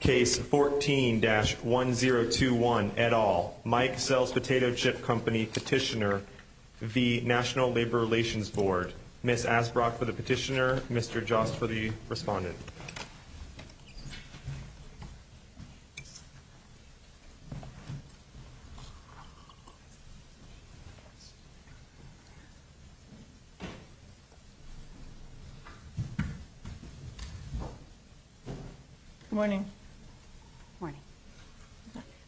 Case 14-1021, et al. Mike-sell's Potato Chip Company Petitioner v. National Labor Relations Board Ms. Asbrock for the petitioner, Mr. Jost for the respondent Good morning.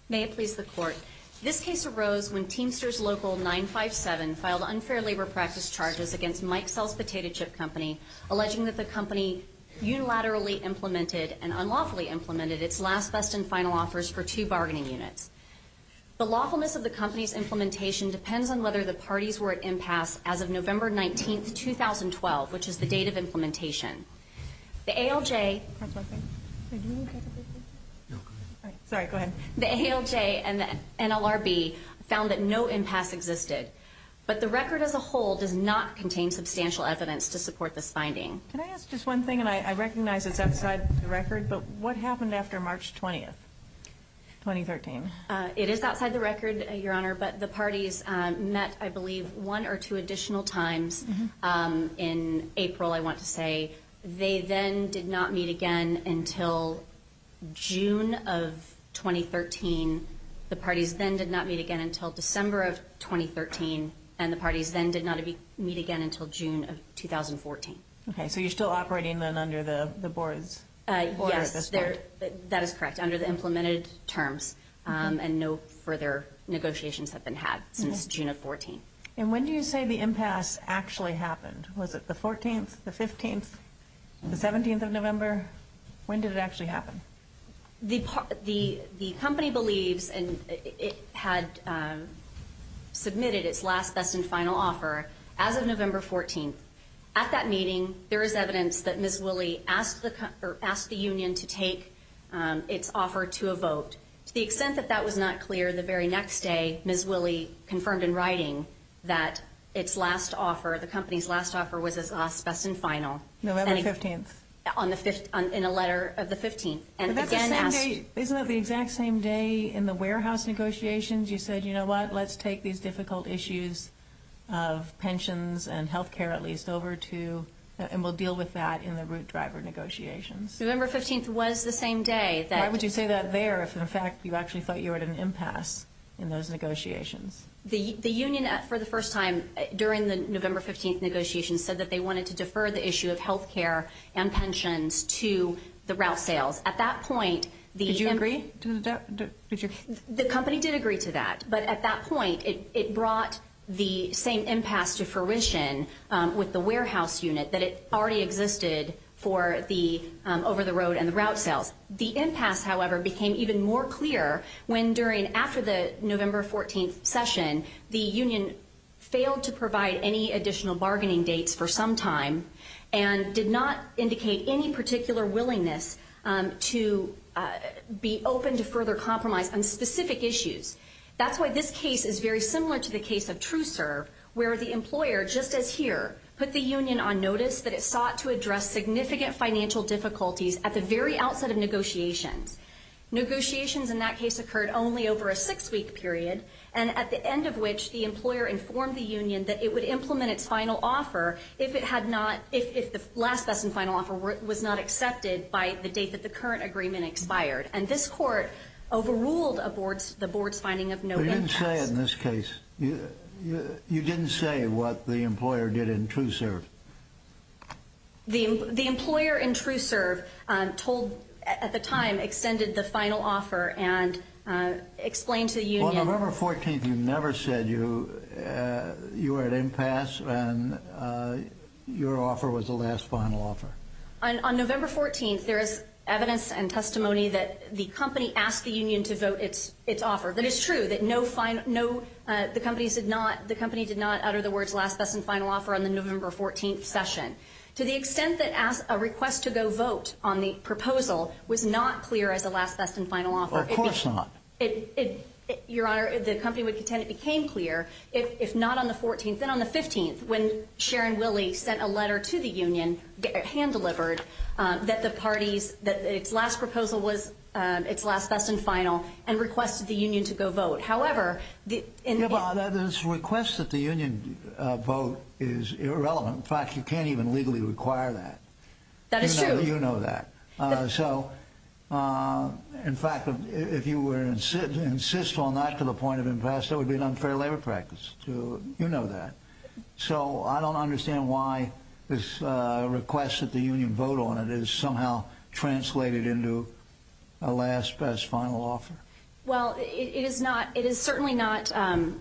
May it please the Court. This case arose when Teamsters Local 957 filed unfair labor practice charges against Mike-sell's Potato Chip Company, alleging that the company unilaterally implemented and unlawfully implemented its last, best, and final offers for two bargaining units. The lawfulness of the company's implementation depends on whether the parties were at impasse as of November 19, 2012, which is the date of implementation. The ALJ and the NLRB found that no impasse existed, but the record as a whole does not contain substantial evidence to support this finding. Can I ask just one thing, and I recognize it's outside the record, but what happened after March 20, 2013? It is outside the record, Your Honor, but the parties met, I believe, one or two additional times in April, I want to say, they then did not meet again until June of 2013, the parties then did not meet again until December of 2013, and the parties then did not meet again until June of 2014. Okay, so you're still operating then under the board's order at this point? Yes, that is correct, under the implemented terms, and no further negotiations have been had since June of 2014. And when do you say the impasse actually happened? Was it the 14th, the 15th, the 17th of November? When did it actually happen? The company believes it had submitted its last, best, and final offer as of November 14. At that meeting, there is evidence that Ms. Willie asked the union to take its offer to a vote. To the extent that that was not clear, the very next day, Ms. Willie confirmed in writing that its last offer, the company's last offer was as last, best, and final. November 15th. In a letter of the 15th. Isn't that the exact same day in the warehouse negotiations? You said, you know what, let's take these difficult issues of pensions and health care, at least, over to, and we'll deal with that in the root driver negotiations. November 15th was the same day. Why would you say that there if, in fact, you actually thought you were at an impasse in those negotiations? The union, for the first time during the November 15th negotiations, said that they wanted to defer the issue of health care and pensions to the route sales. At that point, the company did agree to that. But at that point, it brought the same impasse to fruition with the warehouse unit that already existed for the over-the-road and the route sales. The impasse, however, became even more clear when during, after the November 14th session, the union failed to provide any additional bargaining dates for some time and did not indicate any particular willingness to be open to further compromise on specific issues. That's why this case is very similar to the case of TrueServe, where the employer, just as here, put the union on notice that it sought to address significant financial difficulties at the very outset of negotiations. Negotiations in that case occurred only over a six-week period, and at the end of which the employer informed the union that it would implement its final offer if the last, best, and final offer was not accepted by the date that the current agreement expired. And this court overruled the board's finding of no impasse. But you didn't say in this case, you didn't say what the employer did in TrueServe. The employer in TrueServe told, at the time, extended the final offer and explained to the union. On November 14th, you never said you were at impasse and your offer was the last, final offer. On November 14th, there is evidence and testimony that the company asked the union to vote its offer. That is true, that the company did not utter the words last, best, and final offer on the November 14th session. To the extent that a request to go vote on the proposal was not clear as a last, best, and final offer. Of course not. Your Honor, the company would contend it became clear, if not on the 14th, then on the 15th, when Sharon Willey sent a letter to the union, hand-delivered, that the parties, that its last proposal was its last, best, and final, and requested the union to go vote. However, the... Your Honor, this request that the union vote is irrelevant. In fact, you can't even legally require that. That is true. You know that. So, in fact, if you were to insist on that to the point of impasse, that would be an unfair labor practice. You know that. So, I don't understand why this request that the union vote on it is somehow translated into a last, best, final offer. Well, it is not, it is certainly not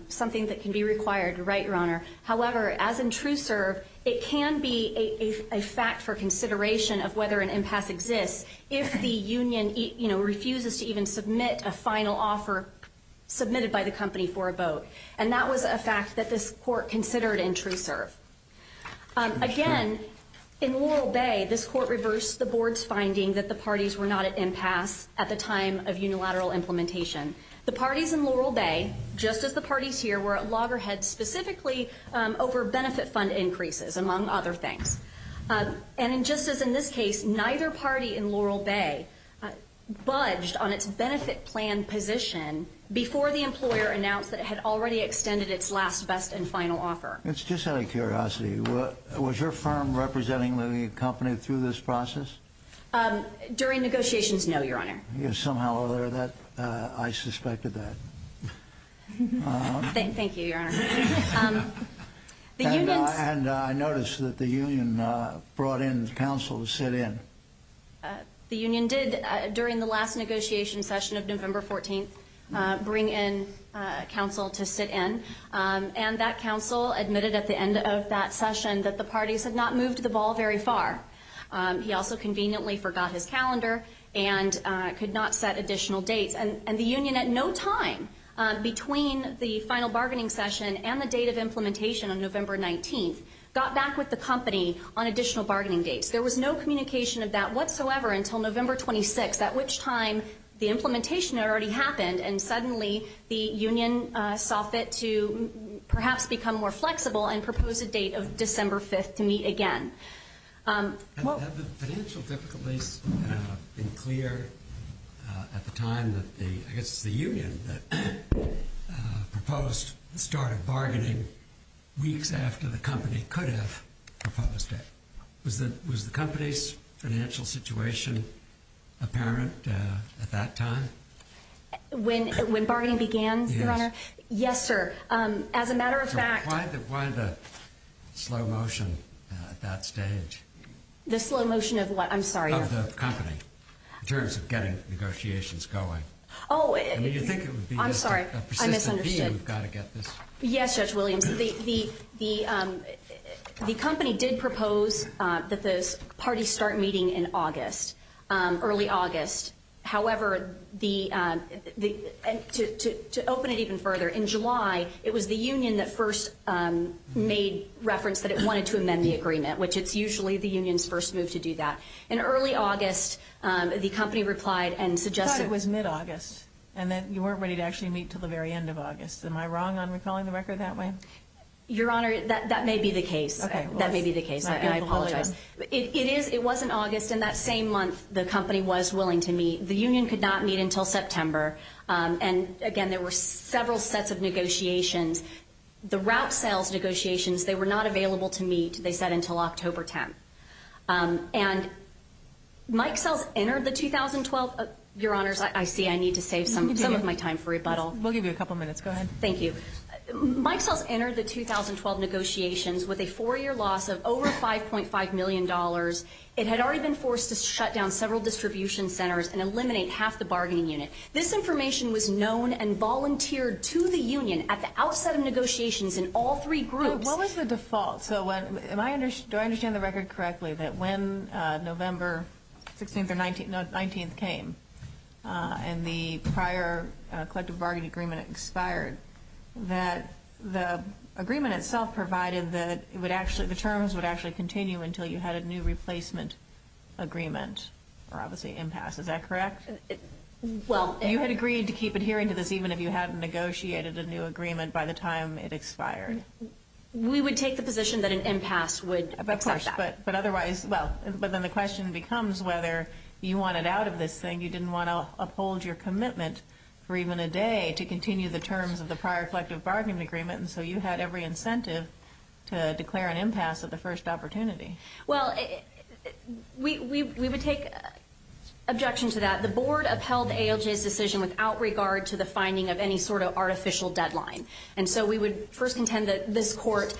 something that can be required. Right, Your Honor? However, as in true serve, it can be a fact for consideration of whether an impasse exists, if the union, you know, refuses to even submit a final offer submitted by the company for a vote. And that was a fact that this court considered in true serve. Again, in Laurel Bay, this court reversed the board's finding that the parties were not at impasse at the time of unilateral implementation. The parties in Laurel Bay, just as the parties here, were at loggerheads specifically over benefit fund increases, among other things. And just as in this case, neither party in Laurel Bay budged on its benefit plan position before the employer announced that it had already extended its last, best, and final offer. It's just out of curiosity, was your firm representing the company through this process? During negotiations, no, Your Honor. Yes, somehow or other, I suspected that. Thank you, Your Honor. And I noticed that the union brought in counsel to sit in. The union did, during the last negotiation session of November 14th, bring in counsel to sit in. And that counsel admitted at the end of that session that the parties had not moved the ball very far. He also conveniently forgot his calendar and could not set additional dates. And the union, at no time between the final bargaining session and the date of implementation on November 19th, got back with the company on additional bargaining dates. There was no communication of that whatsoever until November 26th, at which time the implementation had already happened, and suddenly the union saw fit to perhaps become more flexible and propose a date of December 5th to meet again. Have the financial difficulties been clear at the time that the, I guess it's the union, that proposed the start of bargaining weeks after the company could have proposed it? Was the company's financial situation apparent at that time? When bargaining began, Your Honor? Yes. Yes, sir. As a matter of fact— Why the slow motion at that stage? The slow motion of what? I'm sorry. Of the company, in terms of getting negotiations going. Oh, it— I mean, you think it would be— I'm sorry. I misunderstood. —a persistent deal. We've got to get this— Yes, Judge Williams. The company did propose that the parties start meeting in August, early August. However, to open it even further, in July, it was the union that first made reference that it wanted to amend the agreement, which it's usually the union's first move to do that. In early August, the company replied and suggested— I thought it was mid-August, and that you weren't ready to actually meet until the very end of August. Am I wrong on recalling the record that way? Your Honor, that may be the case. Okay. That may be the case. I apologize. It is—it was in August. In that same month, the company was willing to meet. The union could not meet until September. And, again, there were several sets of negotiations. The route sales negotiations, they were not available to meet, they said, until October 10th. And Mike Sells entered the 2012— Your Honors, I see I need to save some of my time for rebuttal. We'll give you a couple minutes. Go ahead. Thank you. Mike Sells entered the 2012 negotiations with a four-year loss of over $5.5 million. It had already been forced to shut down several distribution centers and eliminate half the bargaining unit. This information was known and volunteered to the union at the outset of negotiations in all three groups. What was the default? Do I understand the record correctly that when November 16th or 19th came and the prior collective bargaining agreement expired, that the agreement itself provided that it would actually—the terms would actually continue until you had a new replacement agreement or, obviously, impasse. Is that correct? Well— You had agreed to keep adhering to this even if you hadn't negotiated a new agreement by the time it expired. We would take the position that an impasse would accept that. But otherwise—well, but then the question becomes whether you wanted out of this thing. You didn't want to uphold your commitment for even a day to continue the terms of the prior collective bargaining agreement. And so you had every incentive to declare an impasse at the first opportunity. Well, we would take objection to that. The board upheld ALJ's decision without regard to the finding of any sort of artificial deadline. And so we would first contend that this court,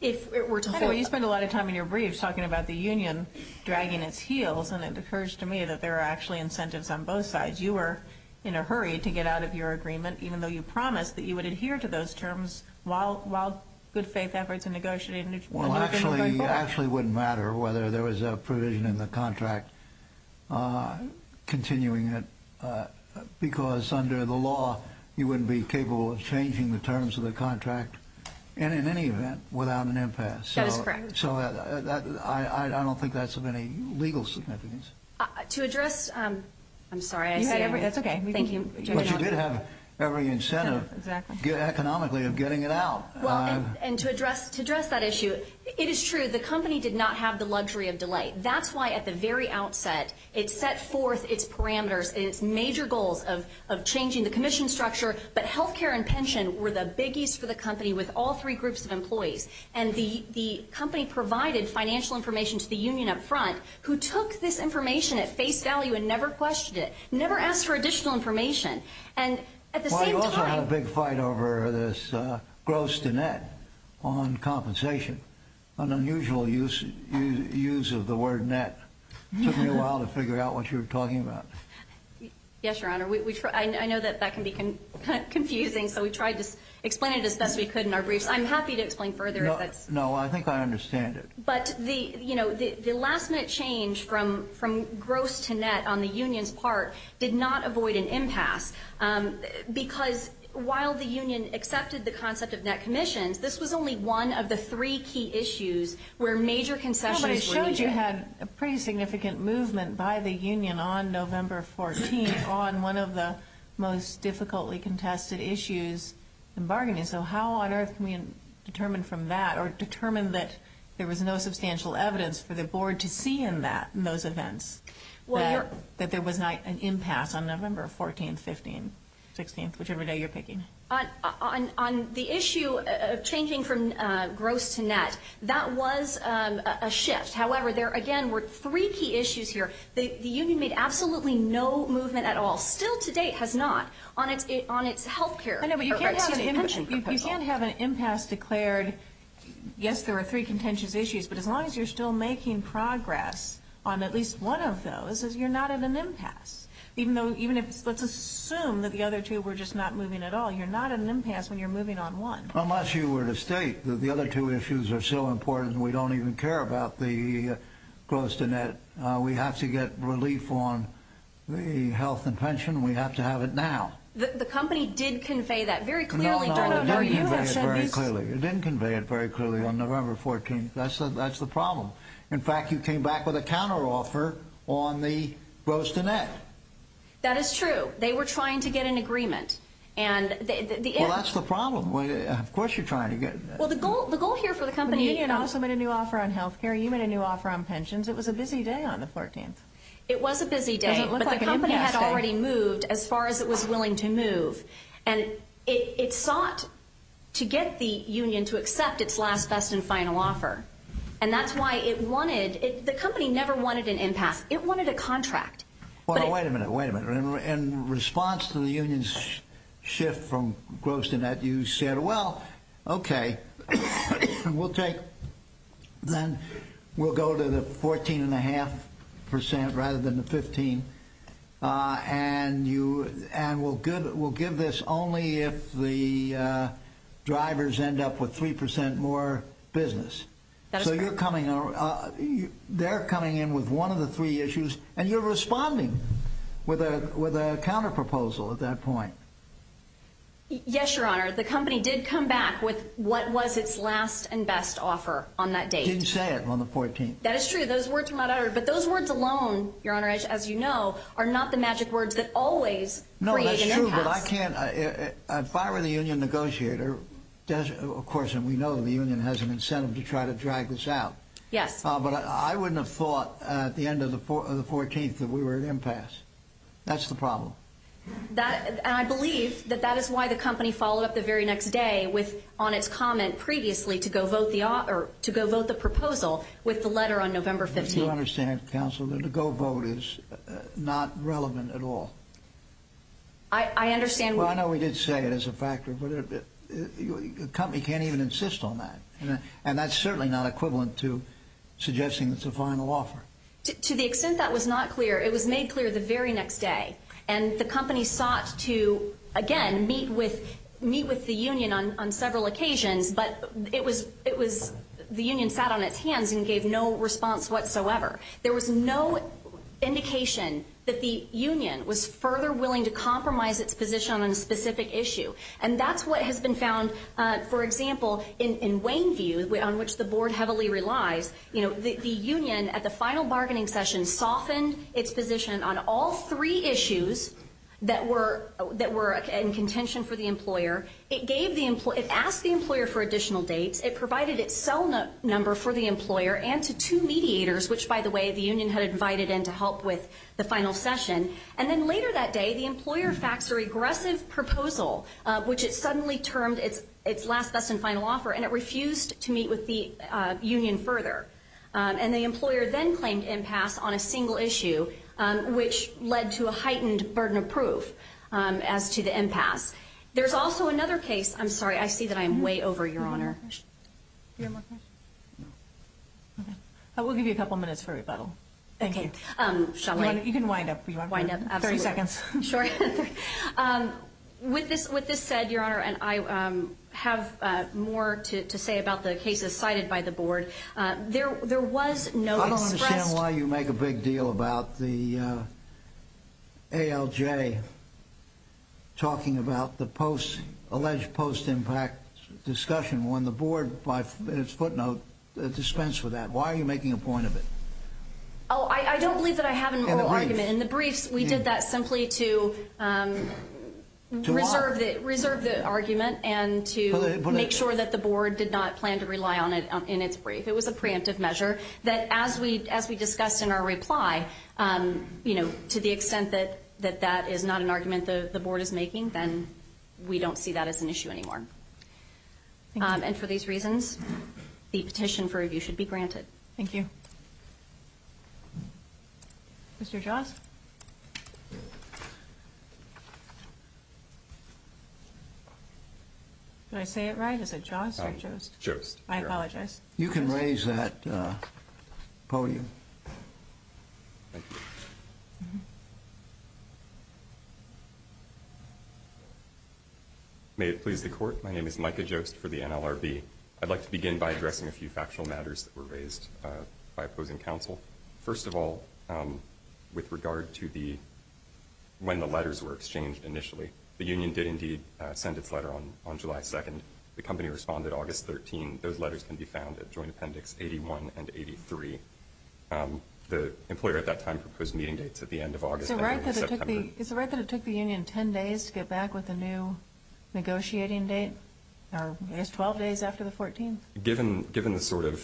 if it were to— Anyway, you spend a lot of time in your briefs talking about the union dragging its heels, and it occurs to me that there are actually incentives on both sides. You were in a hurry to get out of your agreement, even though you promised that you would adhere to those terms while good-faith efforts were negotiated. Well, actually, it wouldn't matter whether there was a provision in the contract continuing it, because under the law, you wouldn't be capable of changing the terms of the contract, in any event, without an impasse. That is correct. So I don't think that's of any legal significance. To address—I'm sorry. That's okay. Thank you. But you did have every incentive economically of getting it out. Well, and to address that issue, it is true the company did not have the luxury of delay. That's why at the very outset it set forth its parameters, its major goals of changing the commission structure, but health care and pension were the biggies for the company with all three groups of employees. And the company provided financial information to the union up front, who took this information at face value and never questioned it, never asked for additional information. And at the same time— Well, you also had a big fight over this gross to net on compensation, an unusual use of the word net. It took me a while to figure out what you were talking about. Yes, Your Honor. I know that that can be kind of confusing, so we tried to explain it as best we could in our briefs. I'm happy to explain further if that's— No, I think I understand it. But the last-minute change from gross to net on the union's part did not avoid an impasse because while the union accepted the concept of net commissions, this was only one of the three key issues where major concessions were needed. But you had a pretty significant movement by the union on November 14th on one of the most difficultly contested issues in bargaining. So how on earth can we determine from that or determine that there was no substantial evidence for the board to see in those events that there was not an impasse on November 14th, 15th, 16th, whichever day you're picking? On the issue of changing from gross to net, that was a shift. However, there again were three key issues here. The union made absolutely no movement at all, still to date has not, on its health care— I know, but you can't have an impasse declared— yes, there were three contentious issues, but as long as you're still making progress on at least one of those, you're not at an impasse. Even if—let's assume that the other two were just not moving at all. You're not at an impasse when you're moving on one. Unless you were to state that the other two issues are so important that we don't even care about the gross to net, we have to get relief on the health and pension, we have to have it now. The company did convey that very clearly. No, no, no, it didn't convey it very clearly. It didn't convey it very clearly on November 14th. That's the problem. In fact, you came back with a counteroffer on the gross to net. That is true. They were trying to get an agreement. Well, that's the problem. Of course you're trying to get— Well, the goal here for the company— The union also made a new offer on health care. You made a new offer on pensions. It was a busy day on the 14th. It was a busy day, but the company had already moved as far as it was willing to move. And it sought to get the union to accept its last, best, and final offer. And that's why it wanted—the company never wanted an impasse. It wanted a contract. Well, wait a minute. Wait a minute. In response to the union's shift from gross to net, you said, Well, okay, we'll take—then we'll go to the 14.5 percent rather than the 15. And we'll give this only if the drivers end up with 3 percent more business. That is correct. So you're coming—they're coming in with one of the three issues. And you're responding with a counterproposal at that point. Yes, Your Honor. The company did come back with what was its last and best offer on that date. You didn't say it on the 14th. That is true. Those words were not uttered. But those words alone, Your Honor, as you know, are not the magic words that always create an impasse. No, that's true, but I can't—if I were the union negotiator, of course, and we know the union has an incentive to try to drag this out. Yes. But I wouldn't have thought at the end of the 14th that we were at impasse. That's the problem. That—and I believe that that is why the company followed up the very next day with— on its comment previously to go vote the—or to go vote the proposal with the letter on November 15th. You understand, Counsel, that a go vote is not relevant at all. I understand— Well, I know we did say it as a factor, but a company can't even insist on that. And that's certainly not equivalent to suggesting it's a final offer. To the extent that was not clear, it was made clear the very next day. And the company sought to, again, meet with the union on several occasions, but it was—the union sat on its hands and gave no response whatsoever. There was no indication that the union was further willing to compromise its position on a specific issue. And that's what has been found, for example, in Wayneview, on which the board heavily relies. The union, at the final bargaining session, softened its position on all three issues that were in contention for the employer. It gave the—it asked the employer for additional dates. It provided its cell number for the employer and to two mediators, which, by the way, the union had invited in to help with the final session. And then later that day, the employer faxed a regressive proposal, which it suddenly termed its last, best, and final offer, and it refused to meet with the union further. And the employer then claimed impasse on a single issue, which led to a heightened burden of proof as to the impasse. There's also another case—I'm sorry, I see that I'm way over, Your Honor. Do you have more questions? No. Okay. We'll give you a couple minutes for rebuttal. Thank you. Okay. Shall we? You can wind up. Wind up. Absolutely. Thirty seconds. Sure. With this said, Your Honor, and I have more to say about the cases cited by the board, there was no expressed— I don't understand why you make a big deal about the ALJ talking about the alleged post-impact discussion when the board, by its footnote, dispensed with that. Why are you making a point of it? Oh, I don't believe that I have a moral argument. In the briefs, we did that simply to reserve the argument and to make sure that the board did not plan to rely on it in its brief. It was a preemptive measure that, as we discussed in our reply, to the extent that that is not an argument the board is making, then we don't see that as an issue anymore. And for these reasons, the petition for review should be granted. Thank you. Mr. Jost? Did I say it right? Is it Jost or Jost? Jost. I apologize. You can raise that podium. Thank you. May it please the Court, my name is Micah Jost for the NLRB. I'd like to begin by addressing a few factual matters that were raised by opposing counsel. First of all, with regard to when the letters were exchanged initially, the union did indeed send its letter on July 2nd. The company responded August 13th. Those letters can be found at Joint Appendix 81 and 83. The employer at that time proposed meeting dates at the end of August and the beginning of September. Is it right that it took the union 10 days to get back with a new negotiating date, or I guess 12 days after the 14th? Given the sort of ‑‑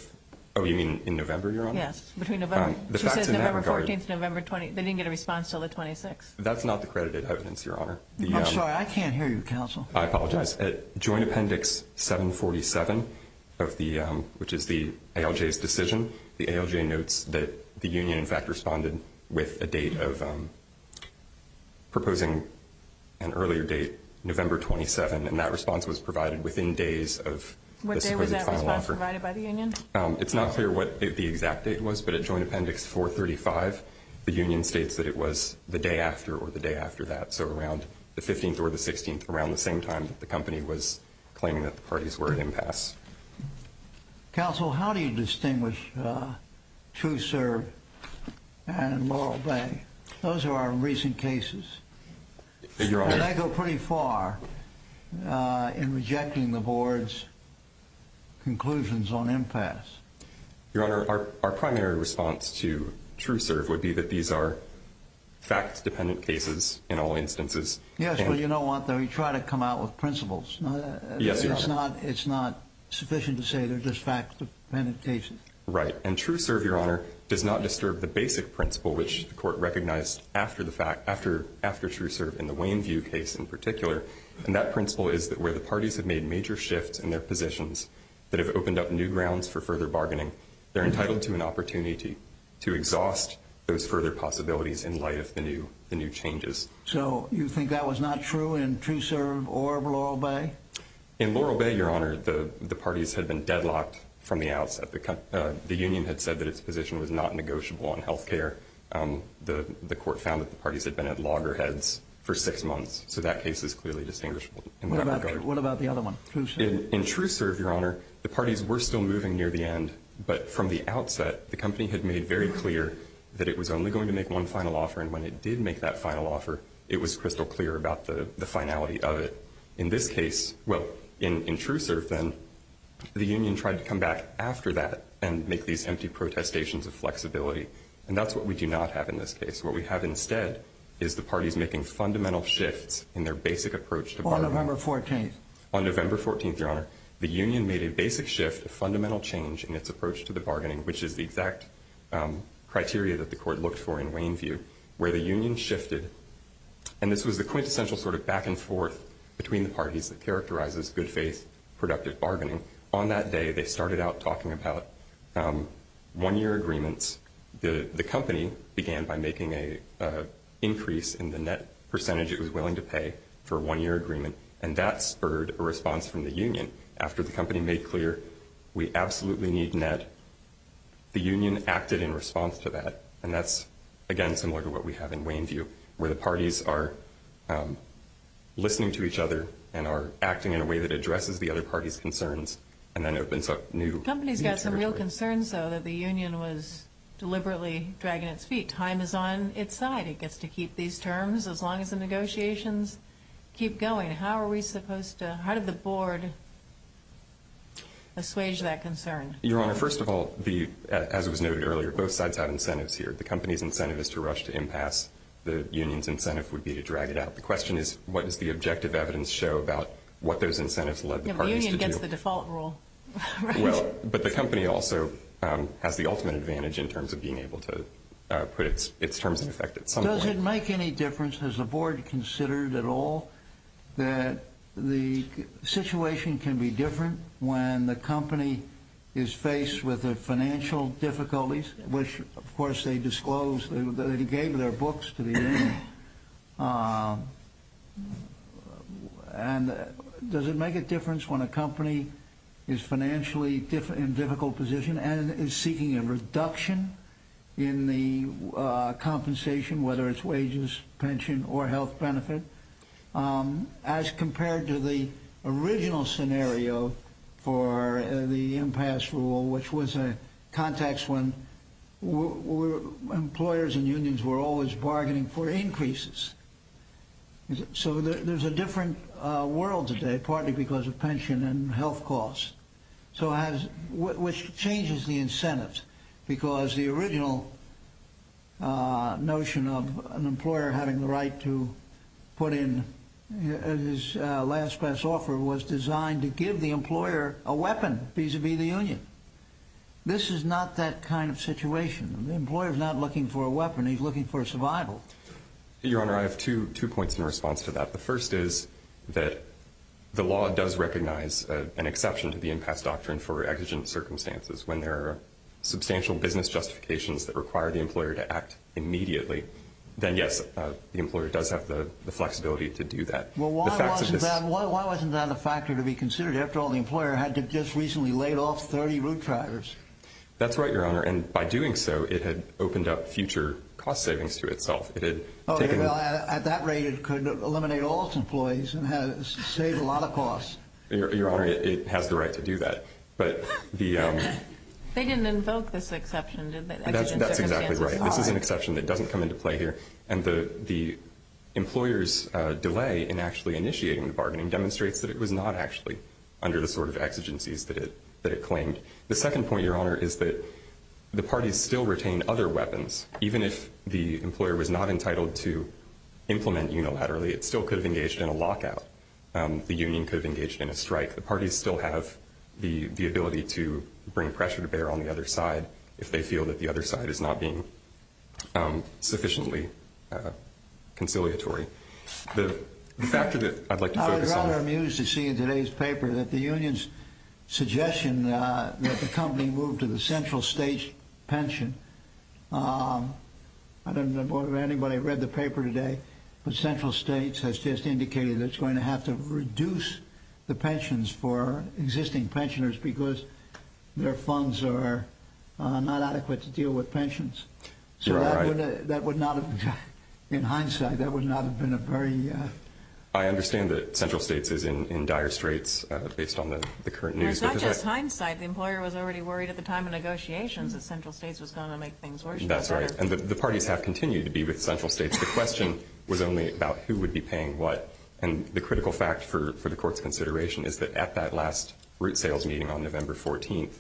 oh, you mean in November, Your Honor? Yes, between November. She said November 14th to November 20th. They didn't get a response until the 26th. That's not the credited evidence, Your Honor. I'm sorry, I can't hear you, counsel. I apologize. Yes, at Joint Appendix 747, which is the ALJ's decision, the ALJ notes that the union, in fact, responded with a date of proposing an earlier date, November 27, and that response was provided within days of the supposed final offer. What day was that response provided by the union? It's not clear what the exact date was, but at Joint Appendix 435, the union states that it was the day after or the day after that, so around the 15th or the 16th, around the same time that the company was claiming that the parties were at impasse. Counsel, how do you distinguish TrueServe and Laurel Bay? Those are our recent cases. They go pretty far in rejecting the board's conclusions on impasse. Your Honor, our primary response to TrueServe would be that these are fact-dependent cases in all instances. Yes, but you know what, though? You try to come out with principles. Yes, Your Honor. It's not sufficient to say they're just fact-dependent cases. Right, and TrueServe, Your Honor, does not disturb the basic principle, which the court recognized after the fact, after TrueServe in the Wayneview case in particular, and that principle is that where the parties have made major shifts in their positions that have opened up new grounds for further bargaining, they're entitled to an opportunity to exhaust those further possibilities in light of the new changes. So you think that was not true in TrueServe or in Laurel Bay? In Laurel Bay, Your Honor, the parties had been deadlocked from the outset. The union had said that its position was not negotiable on health care. The court found that the parties had been at loggerheads for six months, so that case is clearly distinguishable. What about the other one, TrueServe? In TrueServe, Your Honor, the parties were still moving near the end, but from the outset, the company had made very clear that it was only going to make one final offer, and when it did make that final offer, it was crystal clear about the finality of it. In this case, well, in TrueServe, then, the union tried to come back after that and make these empty protestations of flexibility, and that's what we do not have in this case. What we have instead is the parties making fundamental shifts in their basic approach to bargaining. On November 14th? On November 14th, Your Honor, the union made a basic shift, a fundamental change in its approach to the bargaining, which is the exact criteria that the court looked for in Wayneview, where the union shifted, and this was the quintessential sort of back-and-forth between the parties that characterizes good-faith productive bargaining. On that day, they started out talking about one-year agreements. The company began by making an increase in the net percentage it was willing to pay for a one-year agreement, and that spurred a response from the union. After the company made clear, we absolutely need net, the union acted in response to that, and that's, again, similar to what we have in Wayneview, where the parties are listening to each other and are acting in a way that addresses the other party's concerns and then opens up new territory. The company's got some real concerns, though, that the union was deliberately dragging its feet. Time is on its side. It gets to keep these terms as long as the negotiations keep going. How are we supposed to, how did the board assuage that concern? Your Honor, first of all, as was noted earlier, both sides have incentives here. The company's incentive is to rush to impasse. The union's incentive would be to drag it out. The question is, what does the objective evidence show about what those incentives led the parties to do? The union gets the default rule. Well, but the company also has the ultimate advantage in terms of being able to put its terms in effect at some point. Does it make any difference, has the board considered at all, that the situation can be different when the company is faced with financial difficulties, which, of course, they disclosed, they gave their books to the union. And does it make a difference when a company is financially in a difficult position and is seeking a reduction in the compensation, whether it's wages, pension, or health benefit? As compared to the original scenario for the impasse rule, which was a context when employers and unions were always bargaining for increases. So there's a different world today, partly because of pension and health costs, which changes the incentives because the original notion of an employer having the right to put in his last best offer was designed to give the employer a weapon vis-à-vis the union. This is not that kind of situation. The employer's not looking for a weapon, he's looking for survival. Your Honor, I have two points in response to that. The first is that the law does recognize an exception to the impasse doctrine for exigent circumstances. When there are substantial business justifications that require the employer to act immediately, then, yes, the employer does have the flexibility to do that. Well, why wasn't that a factor to be considered? After all, the employer had just recently laid off 30 route drivers. That's right, Your Honor. And by doing so, it had opened up future cost savings to itself. At that rate, it could eliminate all its employees and save a lot of costs. Your Honor, it has the right to do that. They didn't invoke this exception, did they? That's exactly right. This is an exception that doesn't come into play here. And the employer's delay in actually initiating the bargaining demonstrates that it was not actually under the sort of exigencies that it claimed. The second point, Your Honor, is that the parties still retain other weapons, even if the employer was not entitled to implement unilaterally. It still could have engaged in a lockout. The union could have engaged in a strike. The parties still have the ability to bring pressure to bear on the other side if they feel that the other side is not being sufficiently conciliatory. The factor that I'd like to focus on. I'm amused to see in today's paper that the union's suggestion that the company move to the central state pension. I don't know if anybody read the paper today, but central states has just indicated that it's going to have to reduce the pensions for existing pensioners because their funds are not adequate to deal with pensions. So that would not have, in hindsight, that would not have been a very… I understand that central states is in dire straits based on the current news. It's not just hindsight. The employer was already worried at the time of negotiations that central states was going to make things worse. That's right. And the parties have continued to be with central states. The question was only about who would be paying what. And the critical fact for the Court's consideration is that at that last root sales meeting on November 14th,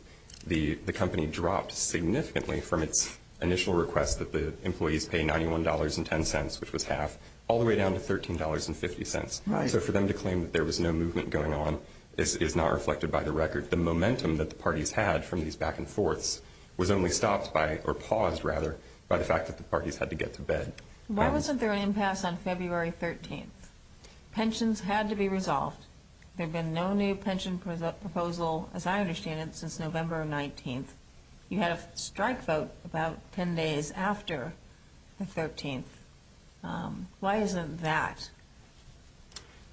the company dropped significantly from its initial request that the employees pay $91.10, which was half, all the way down to $13.50. So for them to claim that there was no movement going on is not reflected by the record. The momentum that the parties had from these back and forths was only stopped by, or paused rather, by the fact that the parties had to get to bed. Why wasn't there an impasse on February 13th? Pensions had to be resolved. There had been no new pension proposal, as I understand it, since November 19th. You had a strike vote about 10 days after the 13th. Why isn't that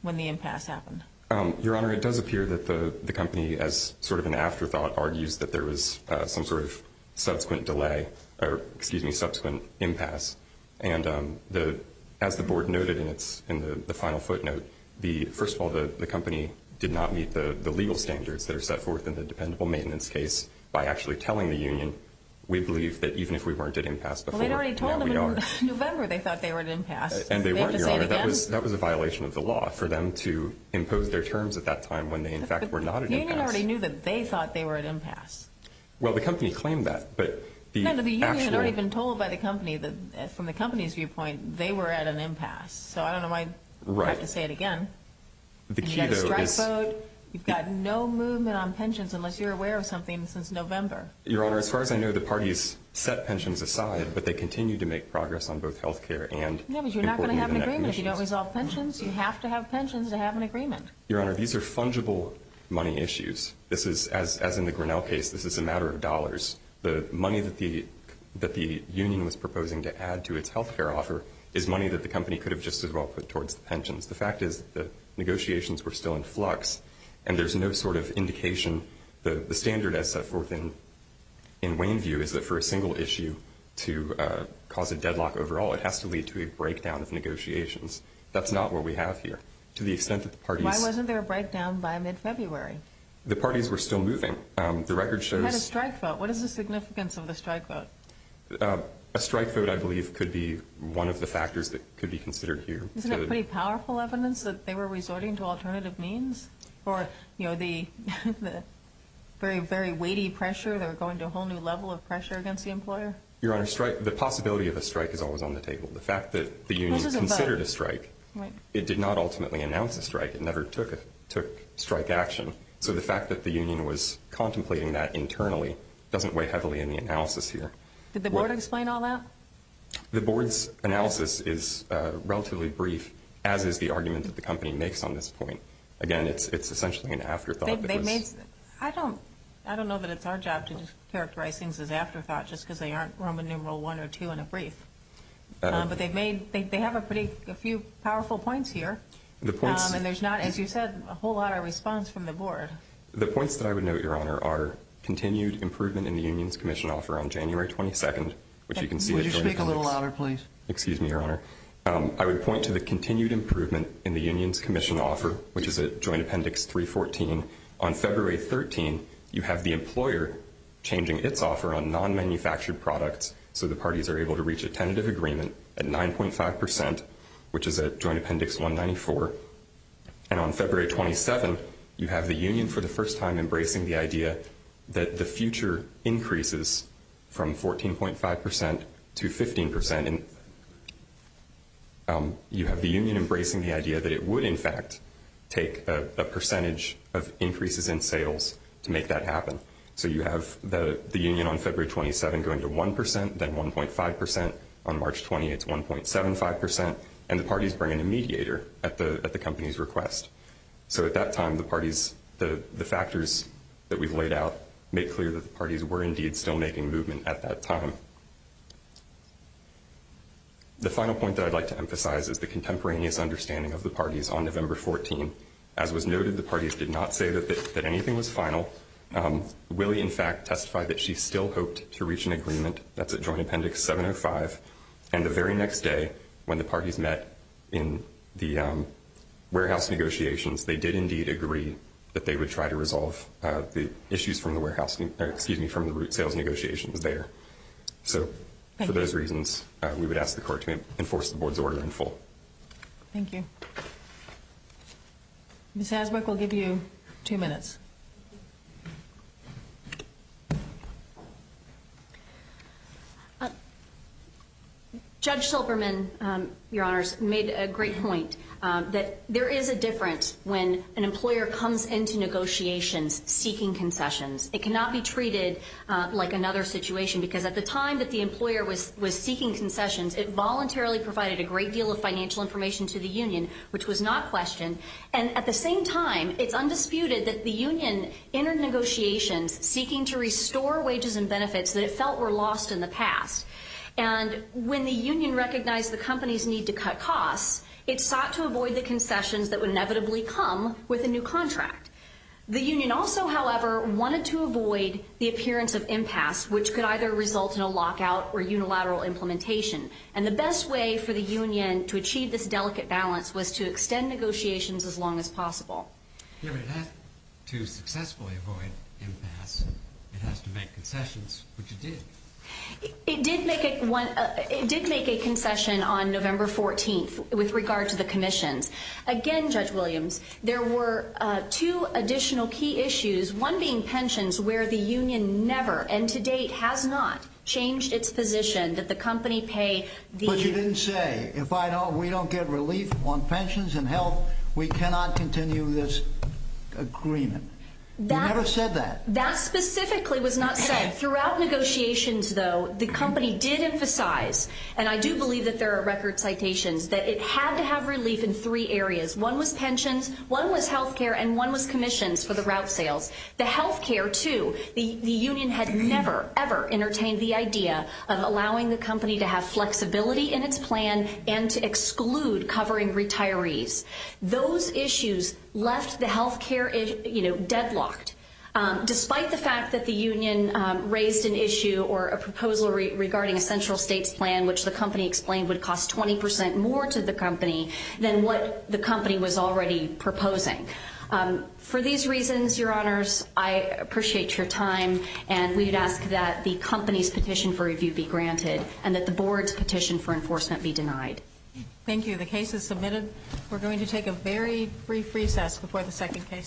when the impasse happened? Your Honor, it does appear that the company, as sort of an afterthought, argues that there was some sort of subsequent delay, or excuse me, subsequent impasse. And as the Board noted in the final footnote, first of all, the company did not meet the legal standards that are set forth in the dependable maintenance case. By actually telling the union, we believe that even if we weren't at impasse before, now we are. Well, they'd already told them in November they thought they were at impasse. And they weren't, Your Honor. Do we have to say it again? That was a violation of the law for them to impose their terms at that time when they, in fact, were not at impasse. But the union already knew that they thought they were at impasse. Well, the company claimed that, but the actual— No, no, the union had already been told by the company that, from the company's viewpoint, they were at an impasse. So I don't know why you have to say it again. The key, though, is— You've got a strike vote. You've got no movement on pensions unless you're aware of something since November. Your Honor, as far as I know, the parties set pensions aside, but they continue to make progress on both health care and— Yeah, but you're not going to have an agreement. If you don't resolve pensions, you have to have pensions to have an agreement. Your Honor, these are fungible money issues. This is, as in the Grinnell case, this is a matter of dollars. The money that the union was proposing to add to its health care offer is money that the company could have just as well put towards the pensions. The fact is that negotiations were still in flux, and there's no sort of indication. The standard, as set forth in Wayneview, is that for a single issue to cause a deadlock overall, it has to lead to a breakdown of negotiations. That's not what we have here. To the extent that the parties— Why wasn't there a breakdown by mid-February? The parties were still moving. The record shows— You had a strike vote. What is the significance of the strike vote? A strike vote, I believe, could be one of the factors that could be considered here. Isn't it pretty powerful evidence that they were resorting to alternative means for the very, very weighty pressure? They were going to a whole new level of pressure against the employer? Your Honor, the possibility of a strike is always on the table. The fact that the union considered a strike, it did not ultimately announce a strike. It never took strike action. So the fact that the union was contemplating that internally doesn't weigh heavily in the analysis here. Did the board explain all that? The board's analysis is relatively brief, as is the argument that the company makes on this point. Again, it's essentially an afterthought. I don't know that it's our job to characterize things as afterthought just because they aren't Roman numeral I or II in a brief. But they have a few powerful points here. And there's not, as you said, a whole lot of response from the board. The points that I would note, Your Honor, are continued improvement in the union's commission offer on January 22nd, which you can see at Joint Appendix. Would you speak a little louder, please? Excuse me, Your Honor. I would point to the continued improvement in the union's commission offer, which is at Joint Appendix 314. On February 13th, you have the employer changing its offer on non-manufactured products so the parties are able to reach a tentative agreement at 9.5%, which is at Joint Appendix 194. And on February 27th, you have the union for the first time embracing the idea that the future increases from 14.5% to 15%. And you have the union embracing the idea that it would, in fact, take a percentage of increases in sales to make that happen. So you have the union on February 27th going to 1%, then 1.5%. On March 20th, it's 1.75%, and the parties bring in a mediator at the company's request. So at that time, the parties, the factors that we've laid out make clear that the parties were indeed still making movement at that time. The final point that I'd like to emphasize is the contemporaneous understanding of the parties on November 14. As was noted, the parties did not say that anything was final. Willie, in fact, testified that she still hoped to reach an agreement. That's at Joint Appendix 705. And the very next day, when the parties met in the warehouse negotiations, they did indeed agree that they would try to resolve the issues from the root sales negotiations there. So for those reasons, we would ask the court to enforce the board's order in full. Thank you. Ms. Hasbrouck, we'll give you two minutes. Judge Silberman, Your Honors, made a great point that there is a difference when an employer comes into negotiations seeking concessions. It cannot be treated like another situation, because at the time that the employer was seeking concessions, it voluntarily provided a great deal of financial information to the union, which was not questioned. And at the same time, it's undisputed that the union entered negotiations seeking to restore wages and benefits that it felt were lost in the past. And when the union recognized the company's need to cut costs, it sought to avoid the concessions that would inevitably come with a new contract. The union also, however, wanted to avoid the appearance of impasse, which could either result in a lockout or unilateral implementation. And the best way for the union to achieve this delicate balance was to extend negotiations as long as possible. If it had to successfully avoid impasse, it has to make concessions, which it did. It did make a concession on November 14th with regard to the commissions. Again, Judge Williams, there were two additional key issues, one being pensions, where the union never and to date has not changed its position that the company pay the— But you didn't say, if we don't get relief on pensions and health, we cannot continue this agreement. You never said that. That specifically was not said. Throughout negotiations, though, the company did emphasize, and I do believe that there are record citations, that it had to have relief in three areas. One was pensions, one was health care, and one was commissions for the route sales. The health care, too, the union had never, ever entertained the idea of allowing the company to have flexibility in its plan and to exclude covering retirees. Those issues left the health care, you know, deadlocked, despite the fact that the union raised an issue or a proposal regarding a central states plan, which the company explained would cost 20 percent more to the company than what the company was already proposing. For these reasons, Your Honors, I appreciate your time, and we'd ask that the company's petition for review be granted and that the board's petition for enforcement be denied. The case is submitted. We're going to take a very brief recess before the second case.